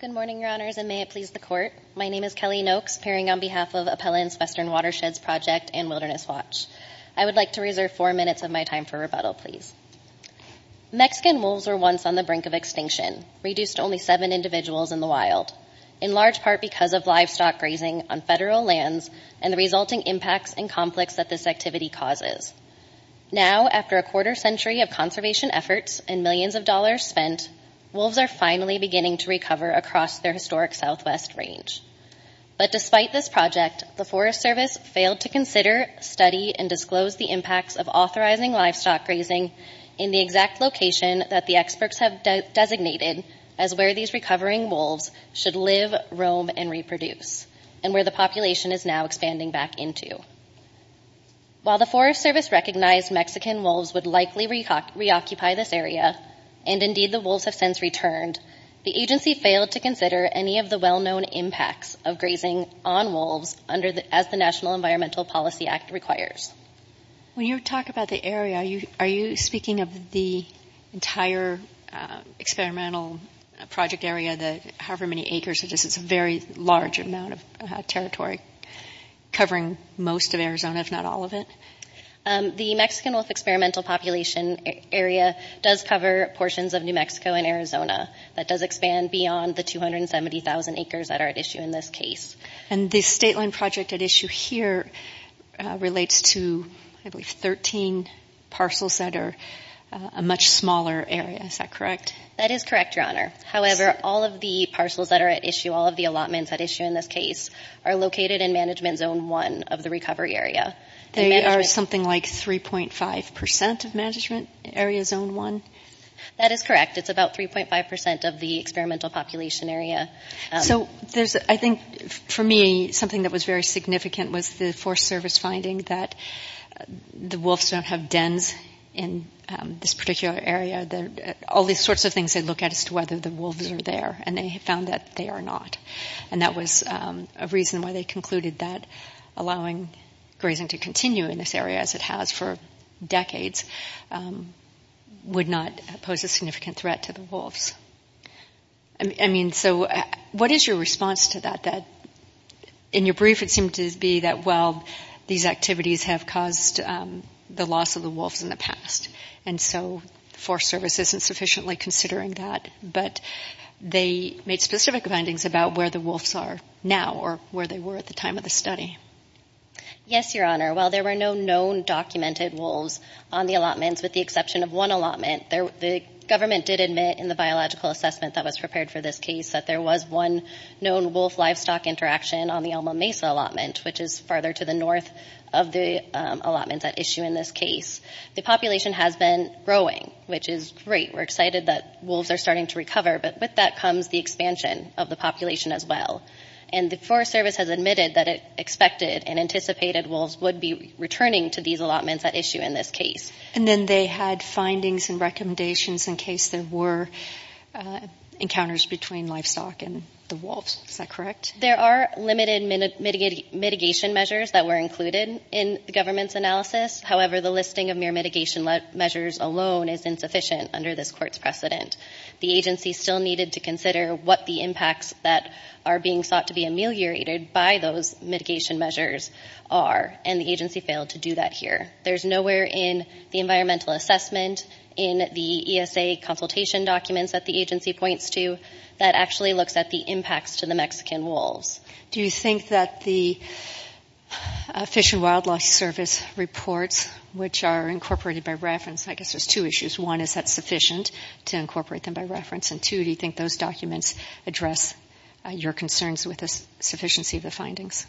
Good morning, Your Honors, and may it please the Court. My name is Kelly Noakes, appearing on behalf of Appellant's Western Watersheds Project and Wilderness Watch. I would like to reserve four minutes of my time for rebuttal, please. Mexican wolves were once on the brink of extinction, reduced to only seven individuals in the wild, in large part because of livestock grazing on federal lands and the resulting impacts and conflicts that this activity causes. Now, after a quarter century of conservation efforts and millions of dollars spent, wolves are finally beginning to recover across their historic southwest range. But despite this project, the Forest Service failed to consider, study, and disclose the impacts of authorizing livestock grazing in the exact location that the experts have designated as where these recovering wolves should live, roam, and reproduce, and where the population is now expanding back into. While the Forest Service recognized Mexican wolves would likely reoccupy this area, and indeed the wolves have since returned, the agency failed to consider any of the well-known impacts of grazing on wolves as the National Environmental Policy Act requires. When you talk about the area, are you speaking of the entire experimental project area, however many acres it is? It's a very large amount of territory covering most of Arizona, if not all of it? The Mexican wolf experimental population area does cover portions of New Mexico and Arizona. That does expand beyond the 270,000 acres that are at issue in this case. And the state land project at issue here relates to, I believe, 13 parcels that are a much smaller area. Is that correct? That is correct, Your Honor. However, all of the parcels that are at issue, all of the allotments at issue in this case, are located in Management Zone 1 of the recovery area. They are something like 3.5% of Management Area Zone 1? That is correct. It's about 3.5% of the experimental population area. So I think, for me, something that was very significant was the Forest Service finding that the wolves don't have dens in this particular area. All these sorts of things they look at as to whether the wolves are there. And they found that they are not. And that was a reason why they concluded that allowing grazing to continue in this area, as it has for decades, would not pose a significant threat to the wolves. I mean, so what is your response to that? In your brief, it seemed to be that, well, these activities have caused the loss of the wolves in the past. And so the Forest Service isn't sufficiently considering that. But they made specific findings about where the wolves are now, or where they were at the time of the study. Yes, Your Honor. While there were no known documented wolves on the allotments, with the exception of one allotment, the government did admit in the biological assessment that was prepared for this case that there was one known wolf-livestock interaction on the Alma Mesa allotment, which is farther to the north of the allotments at issue in this case. The population has been growing, which is great. We're excited that wolves are starting to recover. But with that comes the expansion of the population as well. And the Forest Service has admitted that it expected and anticipated wolves would be returning to these allotments at issue in this case. And then they had findings and recommendations in case there were encounters between livestock and the wolves. Is that correct? There are limited mitigation measures that were included in the government's analysis. However, the listing of mere mitigation measures alone is insufficient under this Court's precedent. The agency still needed to consider what the impacts that are being sought to be ameliorated by those mitigation measures are. And the agency failed to do that here. There's nowhere in the environmental assessment, in the ESA consultation documents that the agency points to that actually looks at the impacts to the Mexican wolves. Do you think that the Fish and Wildlife Service reports, which are incorporated by reference, I guess there's two issues. One, is that sufficient to incorporate them by reference? And two, do you think those documents address your concerns with the sufficiency of the findings?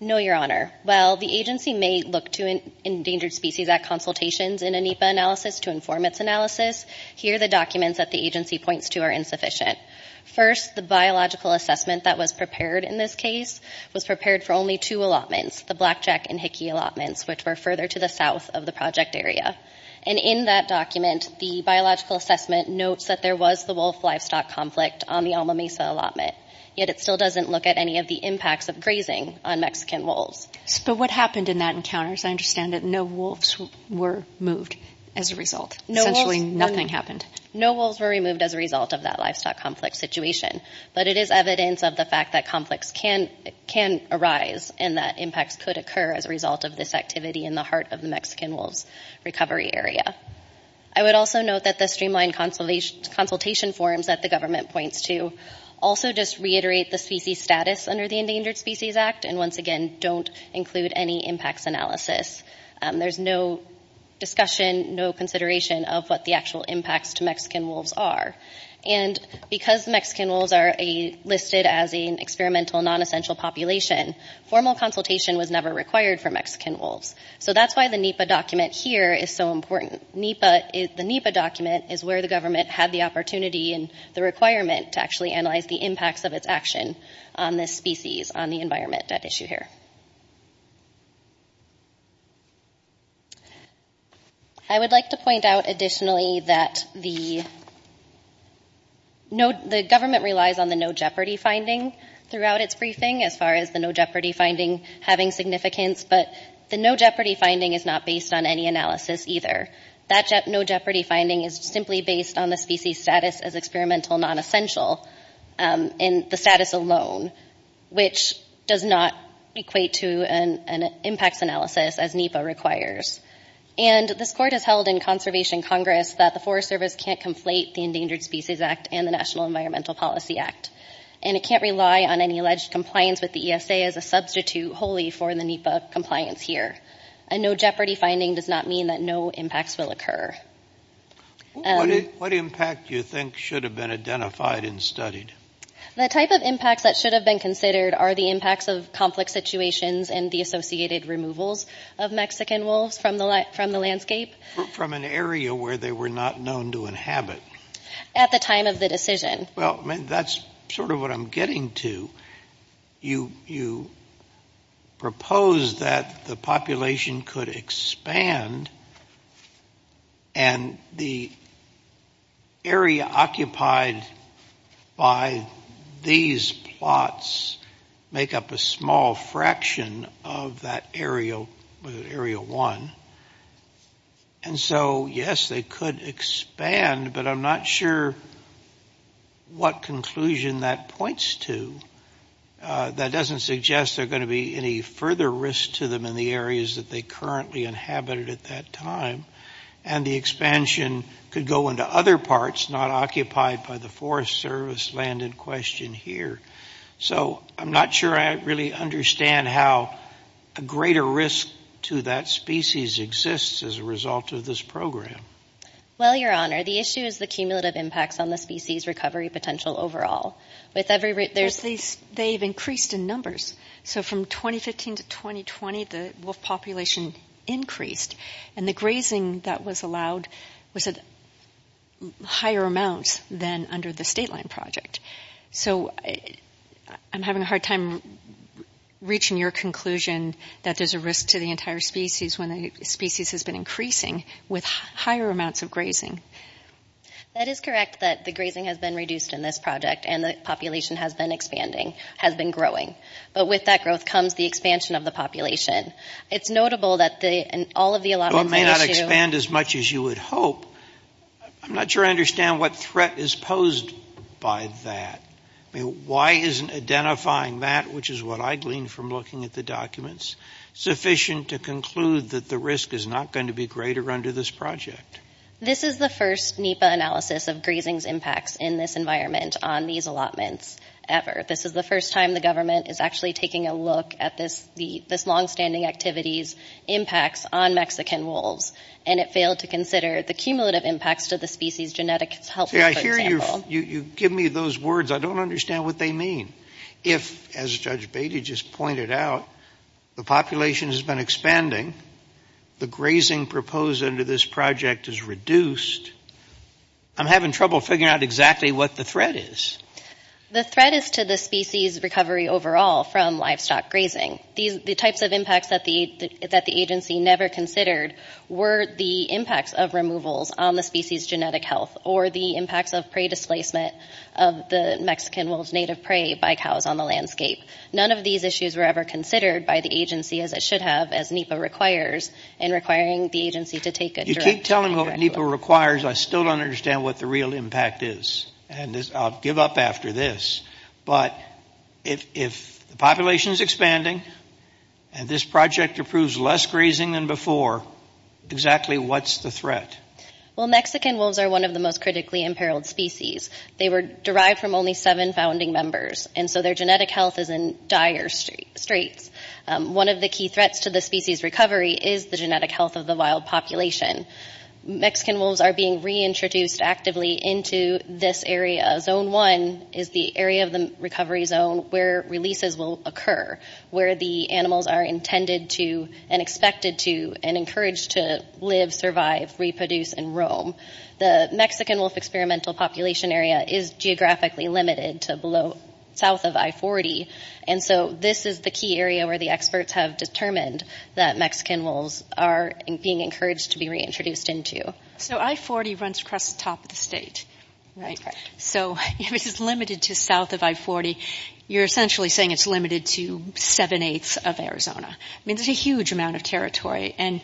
No, Your Honor. While the agency may look to Endangered Species Act consultations in a NEPA analysis to inform its analysis, here the documents that the agency points to are insufficient. First, the biological assessment that was prepared in this case was prepared for only two allotments, the Blackjack and Hickey allotments, which were further to the south of the project area. And in that document, the biological assessment notes that there was the wolf-livestock conflict on the Alma Mesa allotment, yet it still doesn't look at any of the impacts of grazing on Mexican wolves. But what happened in that encounter? Because I understand that no wolves were moved as a result. Essentially, nothing happened. No wolves were removed as a result of that livestock conflict situation. But it is evidence of the fact that conflicts can arise and that impacts could occur as a result of this activity in the heart of the Mexican wolves recovery area. I would also note that the streamlined consultation forms that the government points to also just reiterate the species status under the Endangered Species Act and, once again, don't include any impacts analysis. There's no discussion, no consideration of what the actual impacts to Mexican wolves are. And because Mexican wolves are listed as an experimental non-essential population, formal consultation was never required for Mexican wolves. So that's why the NEPA document here is so important. The NEPA document is where the government had the opportunity and the requirement to actually analyze the impacts of its action on this species, on the environment at issue here. I would like to point out additionally that the government relies on the no jeopardy finding throughout its briefing as far as the no jeopardy finding having significance. But the no jeopardy finding is not based on any analysis either. That no jeopardy finding is simply based on the species status as experimental non-essential and the status alone, which does not equate to an impacts analysis as NEPA requires. And this Court has held in Conservation Congress that the Forest Service can't conflate the Endangered Species Act and the National Environmental Policy Act. And it can't rely on any alleged compliance with the ESA as a substitute wholly for the NEPA compliance here. A no jeopardy finding does not mean that no impacts will occur. What impact do you think should have been identified and studied? The type of impacts that should have been considered are the impacts of conflict situations and the associated removals of Mexican wolves from the landscape. From an area where they were not known to inhabit? At the time of the decision. That's sort of what I'm getting to. You propose that the population could expand and the area occupied by these plots make up a small fraction of that area one. And so, yes, they could expand, but I'm not sure what conclusion that points to. That doesn't suggest there's going to be any further risk to them in the areas that they currently inhabited at that time. And the expansion could go into other parts not occupied by the Forest Service land in question here. So I'm not sure I really understand how a greater risk to that species exists as a result of this program. Well, Your Honor, the issue is the cumulative impacts on the species recovery potential overall. With every route, there's... But they've increased in numbers. So from 2015 to 2020, the wolf population increased. And the grazing that was allowed was at higher amounts than under the state line project. So I'm having a hard time reaching your conclusion that there's a risk to the entire species when the species has been increasing with higher amounts of grazing. That is correct that the grazing has been reduced in this project and the population has been expanding, has been growing. But with that growth comes the expansion of the population. It's notable that all of the allotments... Well, it may not expand as much as you would hope. I'm not sure I understand what threat is posed by that. I mean, why isn't identifying that, which is what I gleaned from looking at the documents, sufficient to conclude that the risk is not going to be greater under this project? This is the first NEPA analysis of grazing's impacts in this environment on these allotments ever. This is the first time the government is actually taking a look at this longstanding activity's impacts on Mexican wolves. And it failed to consider the cumulative impacts to the species' genetic health, for example. See, I hear you give me those words. I don't understand what they mean. If, as Judge Batey just pointed out, the population has been expanding, the grazing proposed under this project is reduced, I'm having trouble figuring out exactly what the threat is. The threat is to the species' recovery overall from livestock grazing. The types of impacts that the agency never considered were the impacts of removals on the species' genetic health or the impacts of prey displacement of the Mexican wolves' native prey by cows on the landscape. None of these issues were ever considered by the agency as it should have, as NEPA requires, in requiring the agency to take a direct look at it. You keep telling me what NEPA requires. I still don't understand what the real impact is. And I'll give up after this. But if the population is expanding and this project approves less grazing than before, exactly what's the threat? Well, Mexican wolves are one of the most critically imperiled species. They were derived from only seven founding members, and so their genetic health is in dire straits. One of the key threats to the species' recovery is the genetic health of the wild population. Mexican wolves are being reintroduced actively into this area. Zone 1 is the area of the recovery zone where releases will occur, where the animals are intended to and expected to and encouraged to live, survive, reproduce, and roam. The Mexican wolf experimental population area is geographically limited to south of I-40. And so this is the key area where the experts have determined that Mexican wolves are being encouraged to be reintroduced into. So I-40 runs across the top of the state, right? That's correct. So if it's limited to south of I-40, you're essentially saying it's limited to seven-eighths of Arizona. I mean, that's a huge amount of territory. And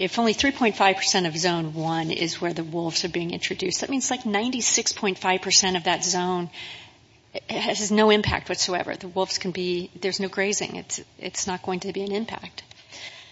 if only 3.5 percent of Zone 1 is where the wolves are being introduced, that means like 96.5 percent of that zone has no impact whatsoever. The wolves can be—there's no grazing. It's not going to be an impact.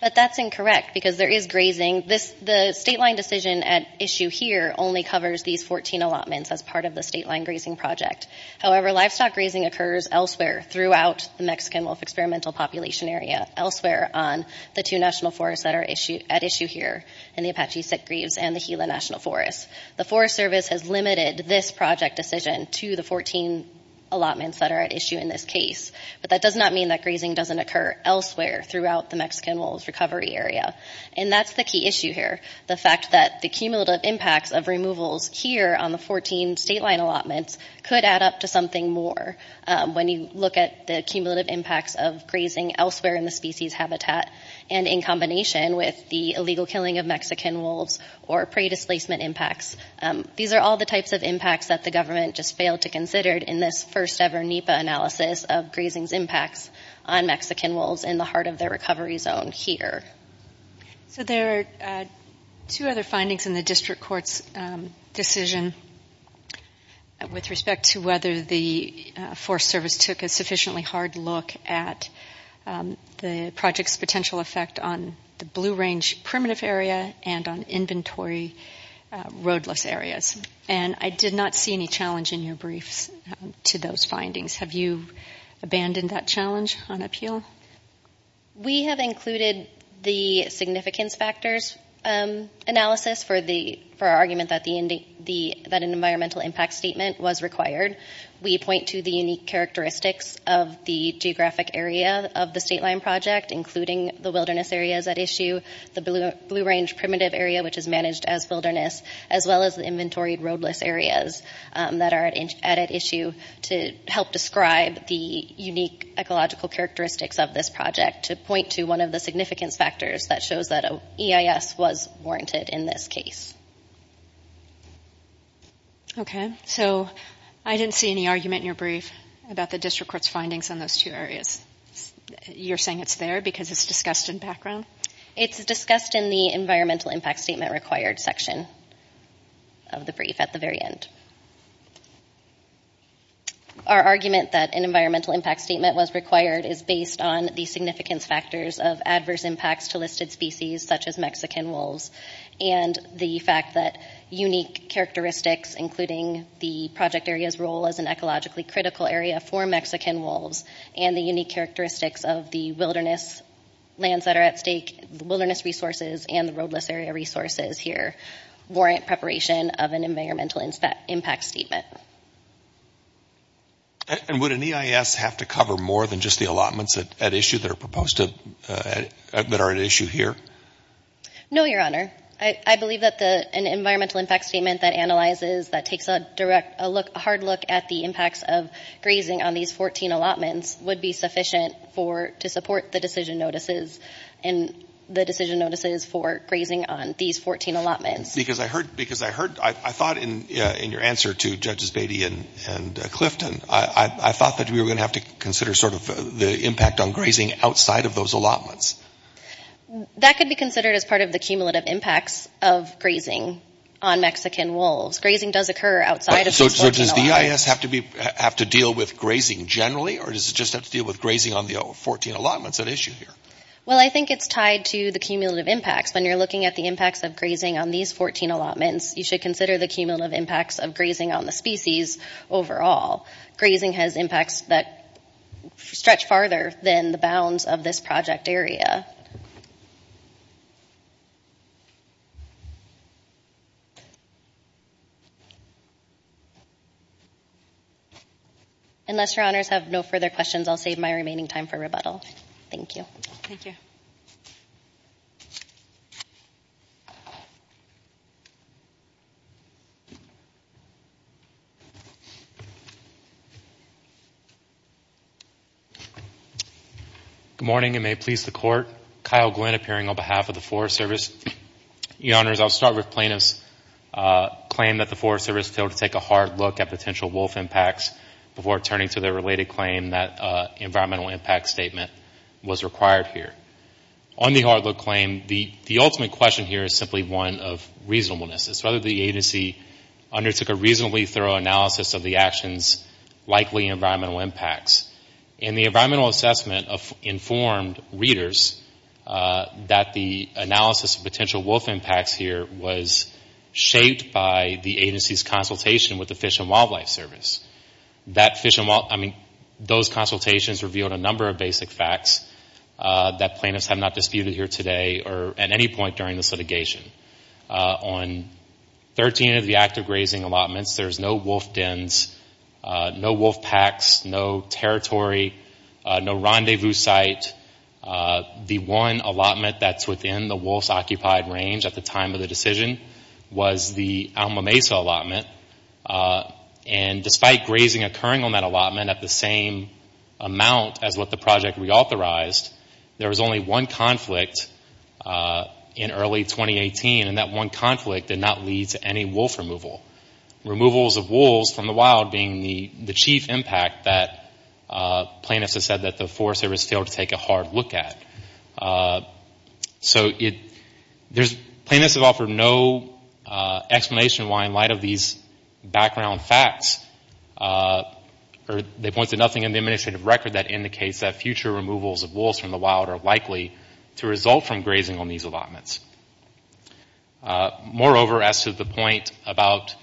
But that's incorrect, because there is grazing. The state-line decision at issue here only covers these 14 allotments as part of the state-line grazing project. However, livestock grazing occurs elsewhere throughout the Mexican wolf experimental population area, elsewhere on the two national forests that are at issue here in the Apache Sick Greaves and the Gila National Forest. The Forest Service has limited this project decision to the 14 allotments that are at issue in this case. But that does not mean that grazing doesn't occur elsewhere throughout the Mexican wolves recovery area. And that's the key issue here. The fact that the cumulative impacts of removals here on the 14 state-line allotments could add up to something more when you look at the cumulative impacts of grazing elsewhere in the species habitat and in combination with the illegal killing of Mexican wolves or prey displacement impacts. These are all the types of impacts that the government just failed to consider in this first-ever NEPA analysis of grazing's impacts on Mexican wolves in the heart of their recovery zone here. So there are two other findings in the district court's decision with respect to whether the project's potential effect on the Blue Range primitive area and on inventory roadless areas. And I did not see any challenge in your briefs to those findings. Have you abandoned that challenge on appeal? We have included the significance factors analysis for our argument that an environmental impact statement was required. We point to the unique characteristics of the geographic area of the state-line project, including the wilderness areas at issue, the Blue Range primitive area, which is managed as wilderness, as well as the inventory roadless areas that are at issue to help describe the unique ecological characteristics of this project to point to one of the significance factors that shows that EIS was warranted in this case. Okay. So I didn't see any argument in your brief about the district court's findings on those two areas. You're saying it's there because it's discussed in background? It's discussed in the environmental impact statement required section of the brief at the very end. Our argument that an environmental impact statement was required is based on the significance factors of adverse impacts to listed species, such as Mexican wolves, and the fact that unique characteristics, including the project area's role as an ecologically critical area for Mexican wolves, and the unique characteristics of the wilderness lands that are at stake, the wilderness resources, and the roadless area resources here, warrant preparation of an environmental impact statement. And would an EIS have to cover more than just the allotments at issue that are at issue here? No, Your Honor. I believe that an environmental impact statement that analyzes, that takes a direct, a hard look at the impacts of grazing on these 14 allotments would be sufficient to support the decision notices for grazing on these 14 allotments. Because I heard, I thought in your answer to Judges Beatty and Clifton, I thought that we were going to have to consider sort of the impact on grazing outside of those allotments. That could be considered as part of the cumulative impacts of grazing on Mexican wolves. Grazing does occur outside of these 14 allotments. So does the EIS have to deal with grazing generally, or does it just have to deal with grazing on the 14 allotments at issue here? Well, I think it's tied to the cumulative impacts. When you're looking at the impacts of grazing on these 14 allotments, you should consider the cumulative impacts of grazing on the species overall. Grazing has impacts that stretch farther than the bounds of this project area. Unless Your Honors have no further questions, I'll save my remaining time for rebuttal. Thank you. Thank you. Good morning, and may it please the Court. Kyle Glynn appearing on behalf of the Forest Service. Your Honors, I'll start with plaintiffs' claim that the Forest Service failed to take a hard look at potential wolf impacts before turning to their related claim that environmental impact statement was required here. On the hard look claim, the ultimate question here is simply one of reasonableness. It's whether the agency undertook a reasonably thorough analysis of the action's likely environmental impacts. In the environmental assessment of informed readers that the analysis of potential wolf impacts here was shaped by the agency's consultation with the Fish and Wildlife Service. That fish and wildlife, I mean, those consultations revealed a number of basic facts that plaintiffs have not disputed here today or at any point during this litigation. On 13 of the active grazing allotments, there's no wolf dens, no wolf packs, no territory, no rendezvous site. The one allotment that's within the wolf's occupied range at the time of the decision was the Alma Mesa allotment. And despite grazing occurring on that allotment at the same amount as what the project reauthorized, there was only one conflict in early 2018. And that one conflict did not lead to any wolf removal. Removals of wolves from the wild being the chief impact that plaintiffs have said that the Forest Service failed to take a hard look at. So plaintiffs have offered no explanation why in light of these background facts, or they point to nothing in the administrative record that indicates that future removals of wolves from the wild are likely to result from grazing on these allotments. Moreover, as to the point about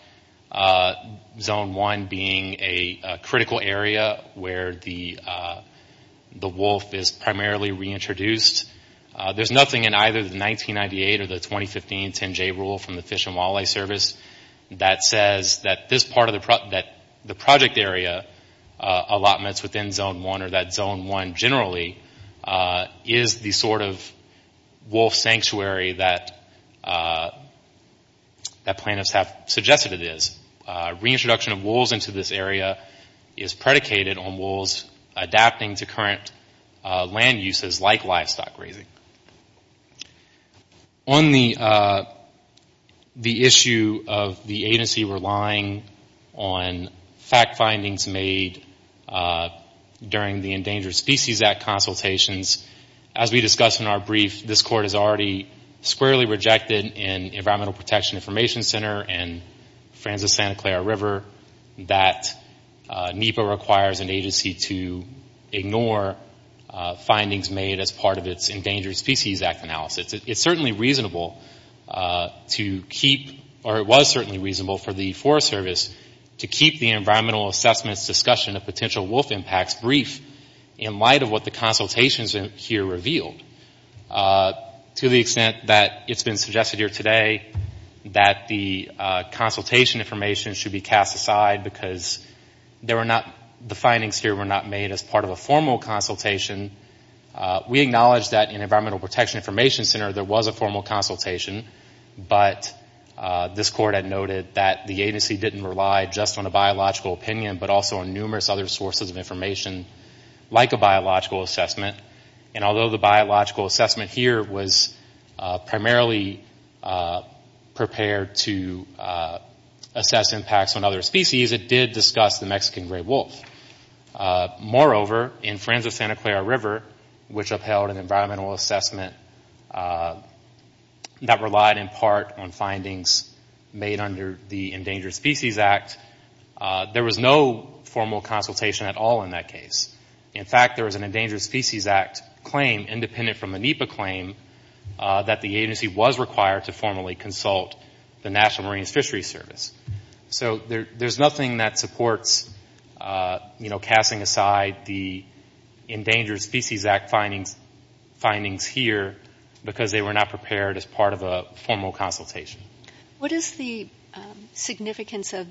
Zone 1 being a critical area where the wolf is primarily reintroduced, there's nothing in either the 1998 or the 2015 10-J rule from the Fish and Wildlife Service that says that this part of the project area allotments within Zone 1 or that Zone 1 generally is the sort of wolf sanctuary that plaintiffs have suggested it is. Reintroduction of wolves into this area is predicated on wolves adapting to current land uses like livestock grazing. On the issue of the agency relying on fact findings made during the Endangered Species Act consultations, as we discussed in our brief, this Court has already squarely rejected in Environmental Protection Information Center and Francis Santa Clara River that NEPA requires an agency to ignore findings made as part of its Endangered Species Act analysis. It is certainly reasonable to keep, or it was certainly reasonable for the Forest Service to keep the environmental assessments discussion of potential wolf impacts brief in light of what the consultations here revealed. To the extent that it's been suggested here today that the consultation information should be cast aside because the findings here were not made as part of a formal consultation, we acknowledge that in Environmental Protection Information Center there was a formal consultation, but this Court had noted that the agency didn't rely just on a biological opinion, but also on numerous other sources of information like a biological assessment, and although the biological assessment here was primarily prepared to assess impacts on other species, it did discuss the Mexican gray wolf. Moreover, in Francis Santa Clara River, which upheld an environmental assessment that relied in part on findings made under the Endangered Species Act, there was no formal consultation at all in that case. In fact, there was an Endangered Species Act claim, independent from a NEPA claim, that the agency was required to formally consult the National Marines Fishery Service. So there's nothing that supports, you know, casting aside the Endangered Species Act findings here because they were not prepared as part of a formal consultation. What is the significance of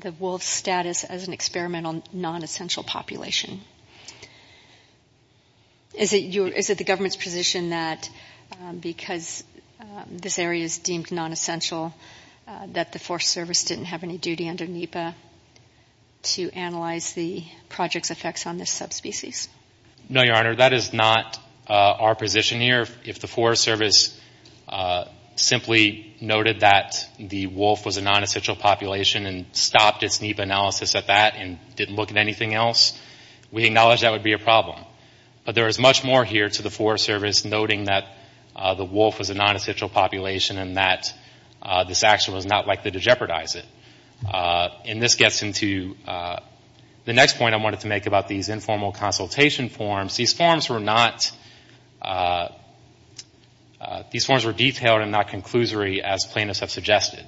the wolf's status as an experimental non-essential population? Is it the government's position that because this area is deemed non-essential that the Forest Service didn't have any duty under NEPA to analyze the project's effects on this subspecies? No, Your Honor, that is not our position here. If the Forest Service simply noted that the wolf was a non-essential population and stopped its NEPA analysis at that and didn't look at anything else, we acknowledge that would be a problem. But there is much more here to the Forest Service noting that the wolf was a non-essential population and that this action was not likely to jeopardize it. And this gets into the next point I wanted to make about these informal consultation forms. These forms were detailed and not conclusory as plaintiffs have suggested.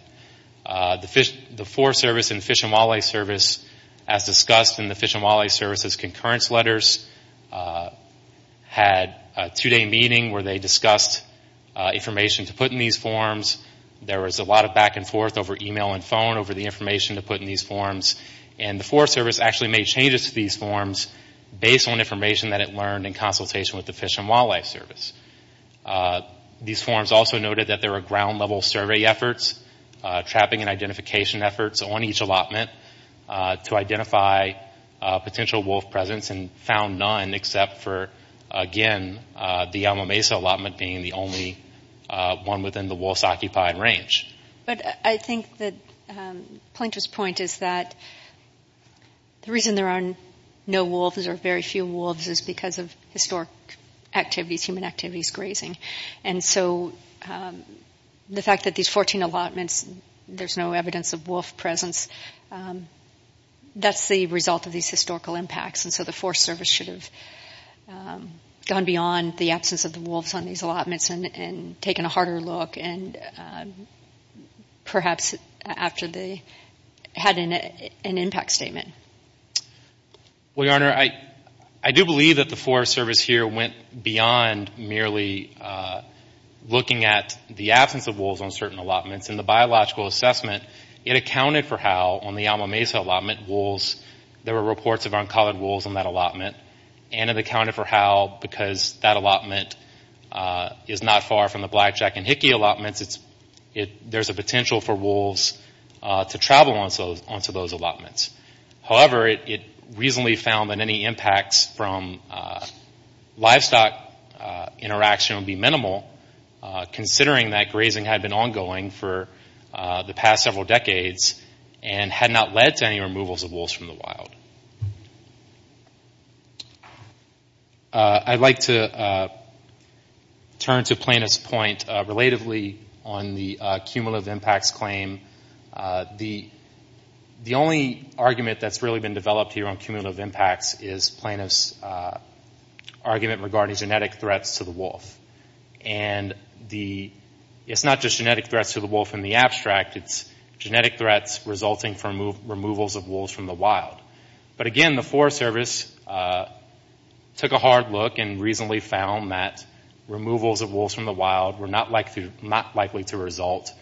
The Forest Service and Fish and Wildlife Service, as discussed in the Fish and Wildlife Service's concurrence letters, had a two-day meeting where they discussed information to put in these forms. There was a lot of back and forth over email and phone over the information to put in these forms. And the Forest Service actually made changes to these forms based on information that it learned in consultation with the Fish and Wildlife Service. These forms also noted that there were ground-level survey efforts, trapping and identification efforts on each allotment to identify potential wolf presence and found none except for, again, the Yalma Mesa allotment being the only one within the wolf's occupied range. But I think that Plaintiff's point is that the reason there are no wolves or very few wolves is because of historic activities, human activities, grazing. And so the fact that these 14 allotments, there's no evidence of wolf presence, that's the result of these historical impacts. And so the Forest Service should have gone beyond the absence of the perhaps after they had an impact statement. Well, Your Honor, I do believe that the Forest Service here went beyond merely looking at the absence of wolves on certain allotments. In the biological assessment, it accounted for how, on the Yalma Mesa allotment, wolves, there were reports of uncolored wolves on that allotment. And it accounted for how, because that allotment is not far from the Blackjack and Hickey allotments, there's a potential for wolves to travel onto those allotments. However, it reasonably found that any impacts from livestock interaction would be minimal, considering that grazing had been ongoing for the past several decades and had not led to any removals of wolves from the wild. I'd like to turn to Plaintiff's point, relatively, on the cumulative impacts claim. The only argument that's really been developed here on cumulative impacts is Plaintiff's argument regarding genetic threats to the wolf. And it's not just genetic threats to the wolf in the abstract, it's genetic threats resulting from removals of wolves from the wild. But again, the Forest Service took a hard look and reasonably found that removals of wolves from the wild were not likely to result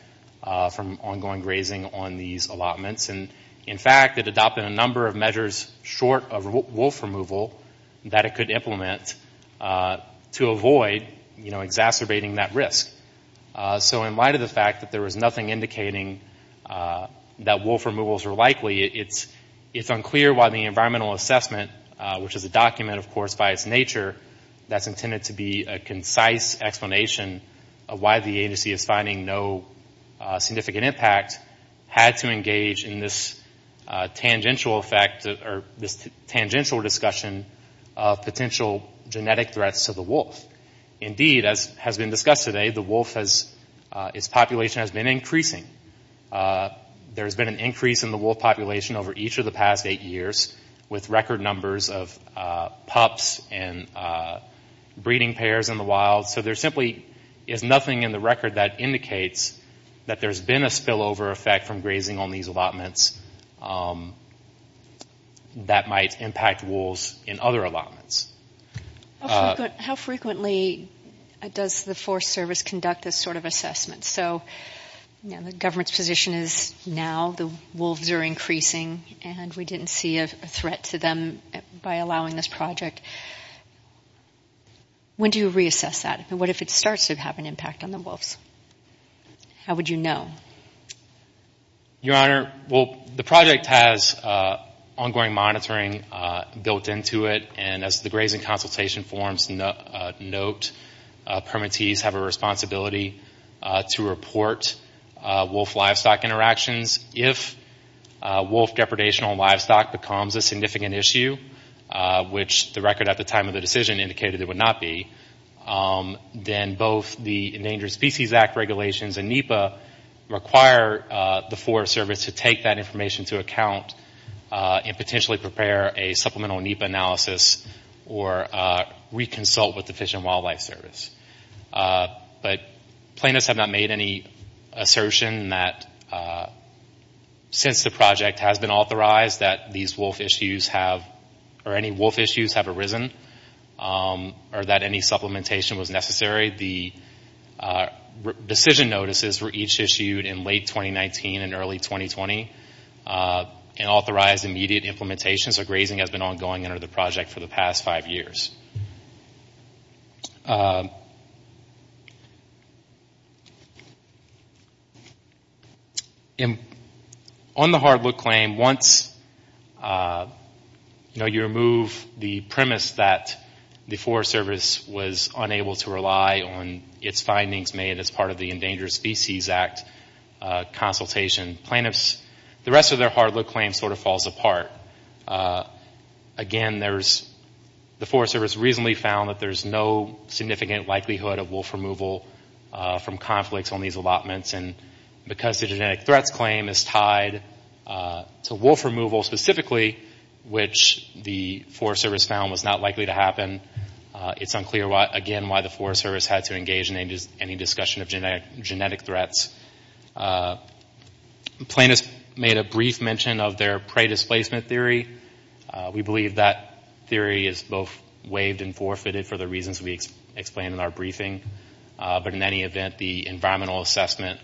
from ongoing grazing on these allotments. And, in fact, it adopted a number of measures short of wolf removal that it could implement to avoid exacerbating that risk. So in light of the fact that there was nothing indicating that wolf removals were likely, it's unclear why the environmental assessment, which is a document, of course, by its nature, that's intended to be a concise explanation of why the agency is finding no significant impact, had to engage in this tangential effect or this tangential discussion of potential genetic threats to the wolf. Indeed, as has been discussed today, the wolf's population has been increasing. There's been an increase in the wolf population over each of the past eight years with record numbers of pups and breeding pairs in the wild. So there simply is nothing in the record that indicates that there's been a spillover effect from grazing on these allotments that might impact wolves in other allotments. How frequently does the Forest Service conduct this sort of assessment? So the government's position is now the wolves are increasing and we didn't see a threat to them by allowing this project. When do you reassess that? What if it starts to have an impact on the wolves? How would you know? Your Honor, well, the project has ongoing monitoring built into it and as the grazing consultation forms note, permittees have a responsibility to report wolf-livestock interactions. If wolf depredation on livestock becomes a significant issue, which the record at the decision indicated it would not be, then both the Endangered Species Act regulations and NEPA require the Forest Service to take that information into account and potentially prepare a supplemental NEPA analysis or reconsult with the Fish and Wildlife Service. But plaintiffs have not made any assertion that since the project has been authorized that these wolf issues have, or any wolf issues have arisen, or that any supplementation was necessary. The decision notices were each issued in late 2019 and early 2020 and authorized immediate implementation. So grazing has been ongoing under the project for the past five years. On the hard look claim, once you remove the premise that the Forest Service was unable to rely on its findings made as part of the Endangered Species Act consultation, the rest of their hard look claim sort of falls apart. Again, the Forest Service recently found that there's no significant likelihood of wolf removal from conflicts on these allotments and because the genetic threats claim is tied to wolf removal specifically, which the Forest Service found was not likely to happen, it's unclear, again, why the Forest Service had to engage in any discussion of genetic threats. Plaintiffs made a brief mention of their prey displacement theory. We believe that theory is both waived and forfeited for the reasons we explained in our briefing. But in any event, the environmental assessment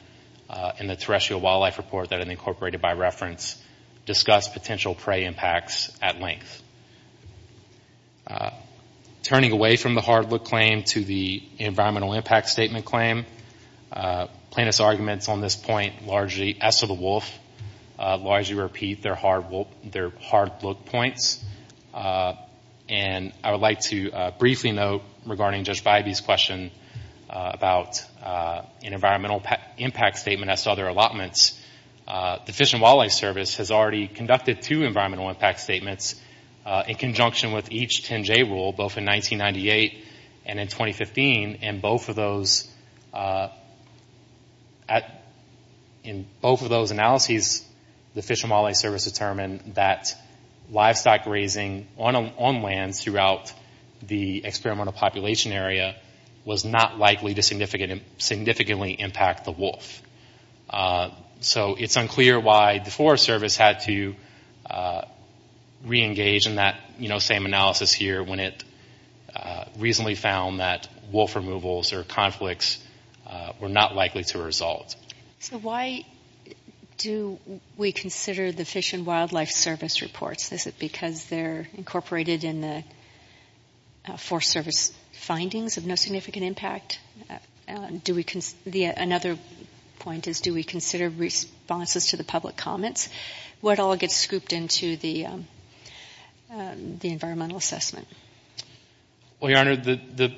and the terrestrial wildlife report that had been incorporated by reference discussed potential prey impacts at length. Turning away from the hard look claim to the environmental impact statement claim, plaintiffs' arguments on this point largely as to the wolf, largely repeat their hard look points. And I would like to briefly note regarding Judge Bybee's question about an environmental impact statement as to other allotments, the Fish and Wildlife Service has already conducted two environmental impact statements in conjunction with each 10-J rule, both in 1998 and in 2015. In both of those analyses, the Fish and Wildlife Service determined that livestock grazing on lands throughout the experimental population area was not likely to significantly impact the wolf. So it's unclear why the Forest Service had to re-engage in that same analysis here when it recently found that wolf removals or conflicts were not likely to result. So why do we consider the Fish and Wildlife Service reports? Is it because they're incorporated in the Forest Service findings of no significant impact? Do we consider...another one of the points is do we consider responses to the public comments? What all gets scooped into the environmental assessment? Well, Your Honor, the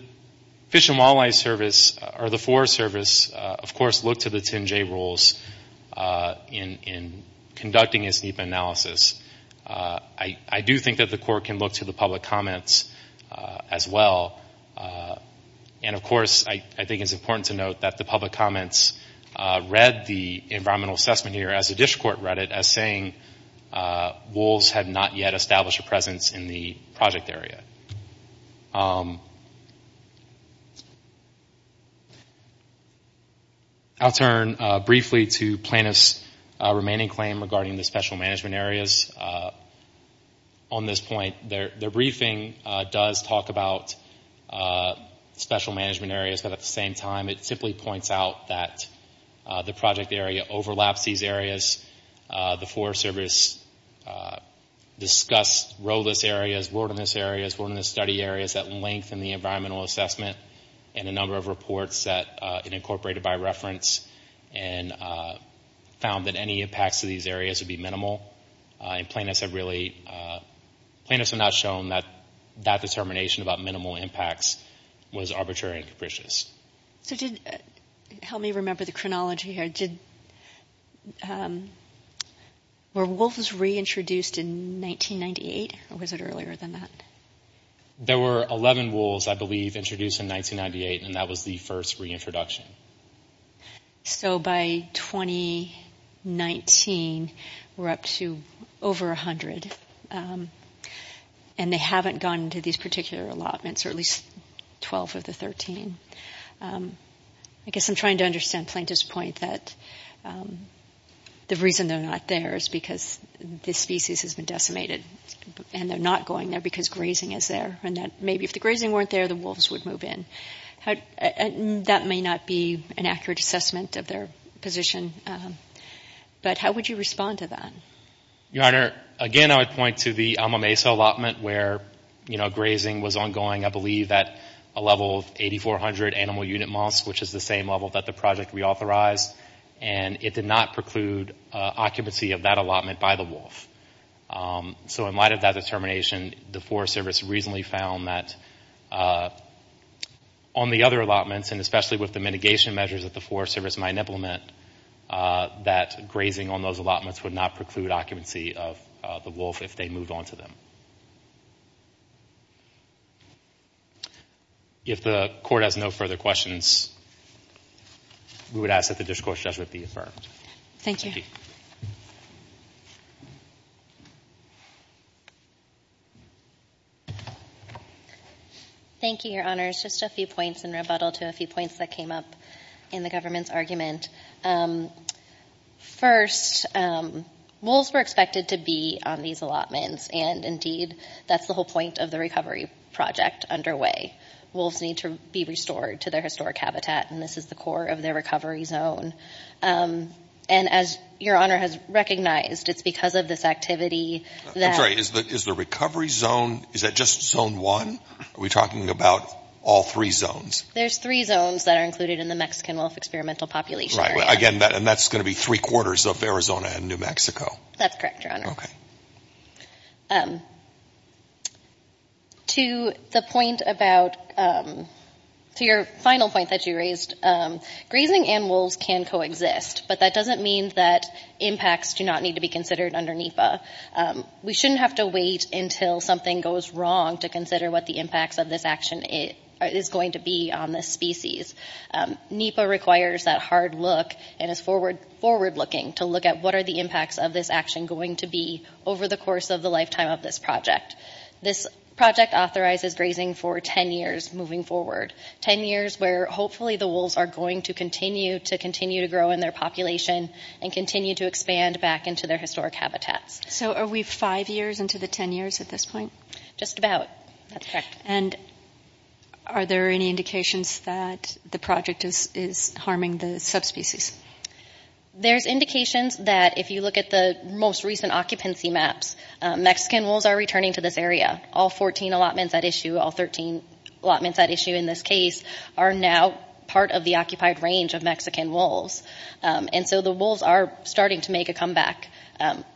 Fish and Wildlife Service or the Forest Service, of course, looked to the 10-J rules in conducting its NEPA analysis. I do think that the court can look to the public comments as well. And of course, I think it's important to note that the public comments read the environmental assessment here, as the district court read it, as saying wolves have not yet established a presence in the project area. I'll turn briefly to plaintiff's remaining claim regarding the special management areas on this point. Their briefing does talk about special management areas, but at the same time, it simply points out that the project area overlaps these areas. The Forest Service discussed rowless areas, wilderness areas, wilderness study areas that lengthen the environmental assessment and a number of reports that it incorporated by reference and found that any impacts to these areas would be minimal. And plaintiffs have really...plaintiffs have not shown that that determination about minimal impacts was arbitrary and capricious. So did...help me remember the chronology here. Did...were wolves reintroduced in 1998, or was it earlier than that? There were 11 wolves, I believe, introduced in 1998, and that was the first reintroduction. So by 2019, we're up to over 100. And I think that's a pretty good number. And they haven't gone to these particular allotments, or at least 12 of the 13. I guess I'm trying to understand plaintiff's point that the reason they're not there is because this species has been decimated, and they're not going there because grazing is there, and that maybe if the grazing weren't there, the wolves would move in. That may not be an accurate assessment of their position, but how would you respond to that? Your Honor, again, I would point to the Ama Mesa allotment where, you know, grazing was ongoing, I believe, at a level of 8,400 animal unit months, which is the same level that the project reauthorized. And it did not preclude occupancy of that allotment by the wolf. So in light of that determination, the Forest Service recently found that on the other allotments, and especially with the mitigation measures that the Forest Service might implement, that grazing on those allotments would not preclude occupancy of the wolf if they moved on to them. If the Court has no further questions, we would ask that the discourse just be affirmed. Thank you. Thank you, Your Honors. Just a few points in rebuttal to a few points that came up in the government's argument. First, wolves were expected to be on these allotments, and indeed, that's the whole point of the recovery project underway. Wolves need to be restored to their historic habitat, and this is the core of their recovery zone. And as Your Honor has recognized, it's because of this activity that... I'm sorry, is the recovery zone, is that just zone one? Are we talking about all three zones? There's three zones that are included in the Mexican Wolf Experimental Population Area. Right. Again, and that's going to be three-quarters of Arizona and New Mexico. That's correct, Your Honor. Okay. To the point about, to your final point that you raised, grazing and wolves can coexist, but that doesn't mean that impacts do not need to be considered under NEPA. We shouldn't have to wait until something goes wrong to consider what the impacts of this action is going to be on this species. NEPA requires that hard look and is forward-looking to look at what are the impacts of this action going to be over the course of the lifetime of this project. This project authorizes grazing for ten years moving forward. Ten years where hopefully the wolves are going to continue to grow in their population and continue to expand back into their historic habitats. So are we five years into the ten years at this point? Just about. That's correct. And are there any indications that the project is harming the subspecies? There's indications that if you look at the most recent occupancy maps, Mexican wolves are returning to this area. All 14 allotments at issue, all 13 allotments at issue in this case, are now part of the occupied range of Mexican wolves. And so the wolves are starting to make a comeback.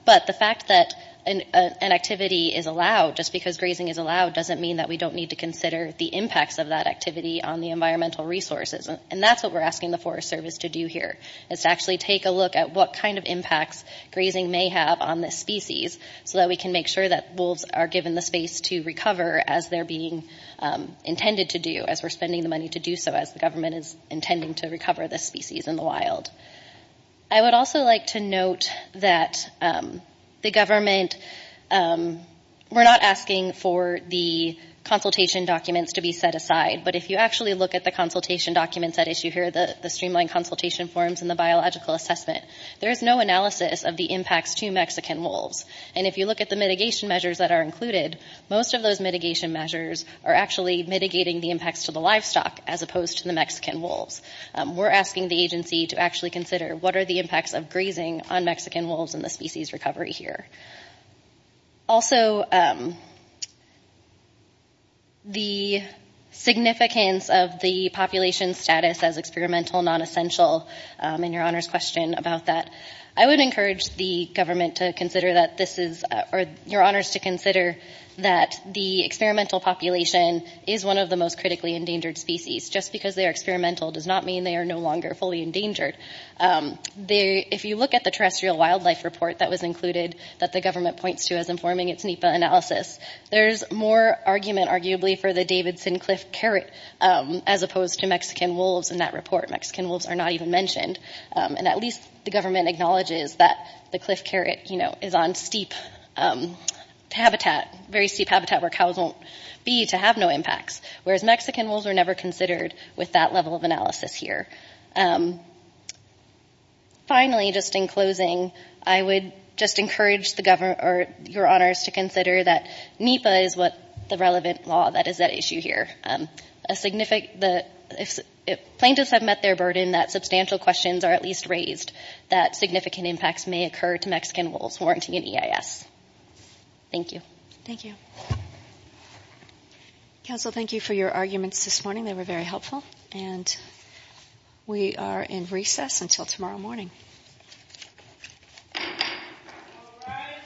But the fact that an activity is allowed just because grazing is allowed doesn't mean that we don't need to consider the impacts of that activity on the environmental resources. And that's what we're asking the Forest Service to do here is to actually take a look at what kind of impacts grazing may have on this species so that we can make sure that wolves are given the space to recover as they're being intended to do as we're spending the money to do so as the government is intending to recover this species in the wild. I would also like to note that the government, we're not asking for the consultation documents to be set aside, but if you actually look at the consultation documents at issue here, the streamlined consultation forms and the biological assessment, there is no analysis of the impacts to Mexican wolves. And if you look at the mitigation measures that are included, most of those mitigation measures are actually mitigating the impacts to the livestock as opposed to the Mexican wolves. We're asking the agency to actually look at and actually consider what are the impacts of grazing on Mexican wolves and the species recovery here. Also, the significance of the population status as experimental, non-essential, and your Honor's question about that, I would encourage the government to consider that this is, or your Honor's to consider that the experimental population is one of the most critically endangered species. Just because they are experimental does not mean they are no longer fully endangered. If you look at the terrestrial wildlife report that was included that the government points to as informing its NEPA analysis, there is more argument arguably for the Davidson Cliff carrot as opposed to Mexican wolves in that report. Mexican wolves are not even mentioned. And at least the government acknowledges that the Cliff carrot is on steep habitat, very steep habitat where cows won't be to have no impacts, whereas Mexican wolves were never considered with that level of analysis here. Finally, just in closing, I would just encourage the government or your Honor's to consider that NEPA is what the relevant law that is at issue here. A significant, plaintiffs have met their burden that substantial questions are at least raised that significant impacts may occur to Mexican wolves warranting an EIS. Thank you. Thank you. Counsel, thank you for your arguments this morning. They were very helpful. And we are in recess until tomorrow morning. All rise.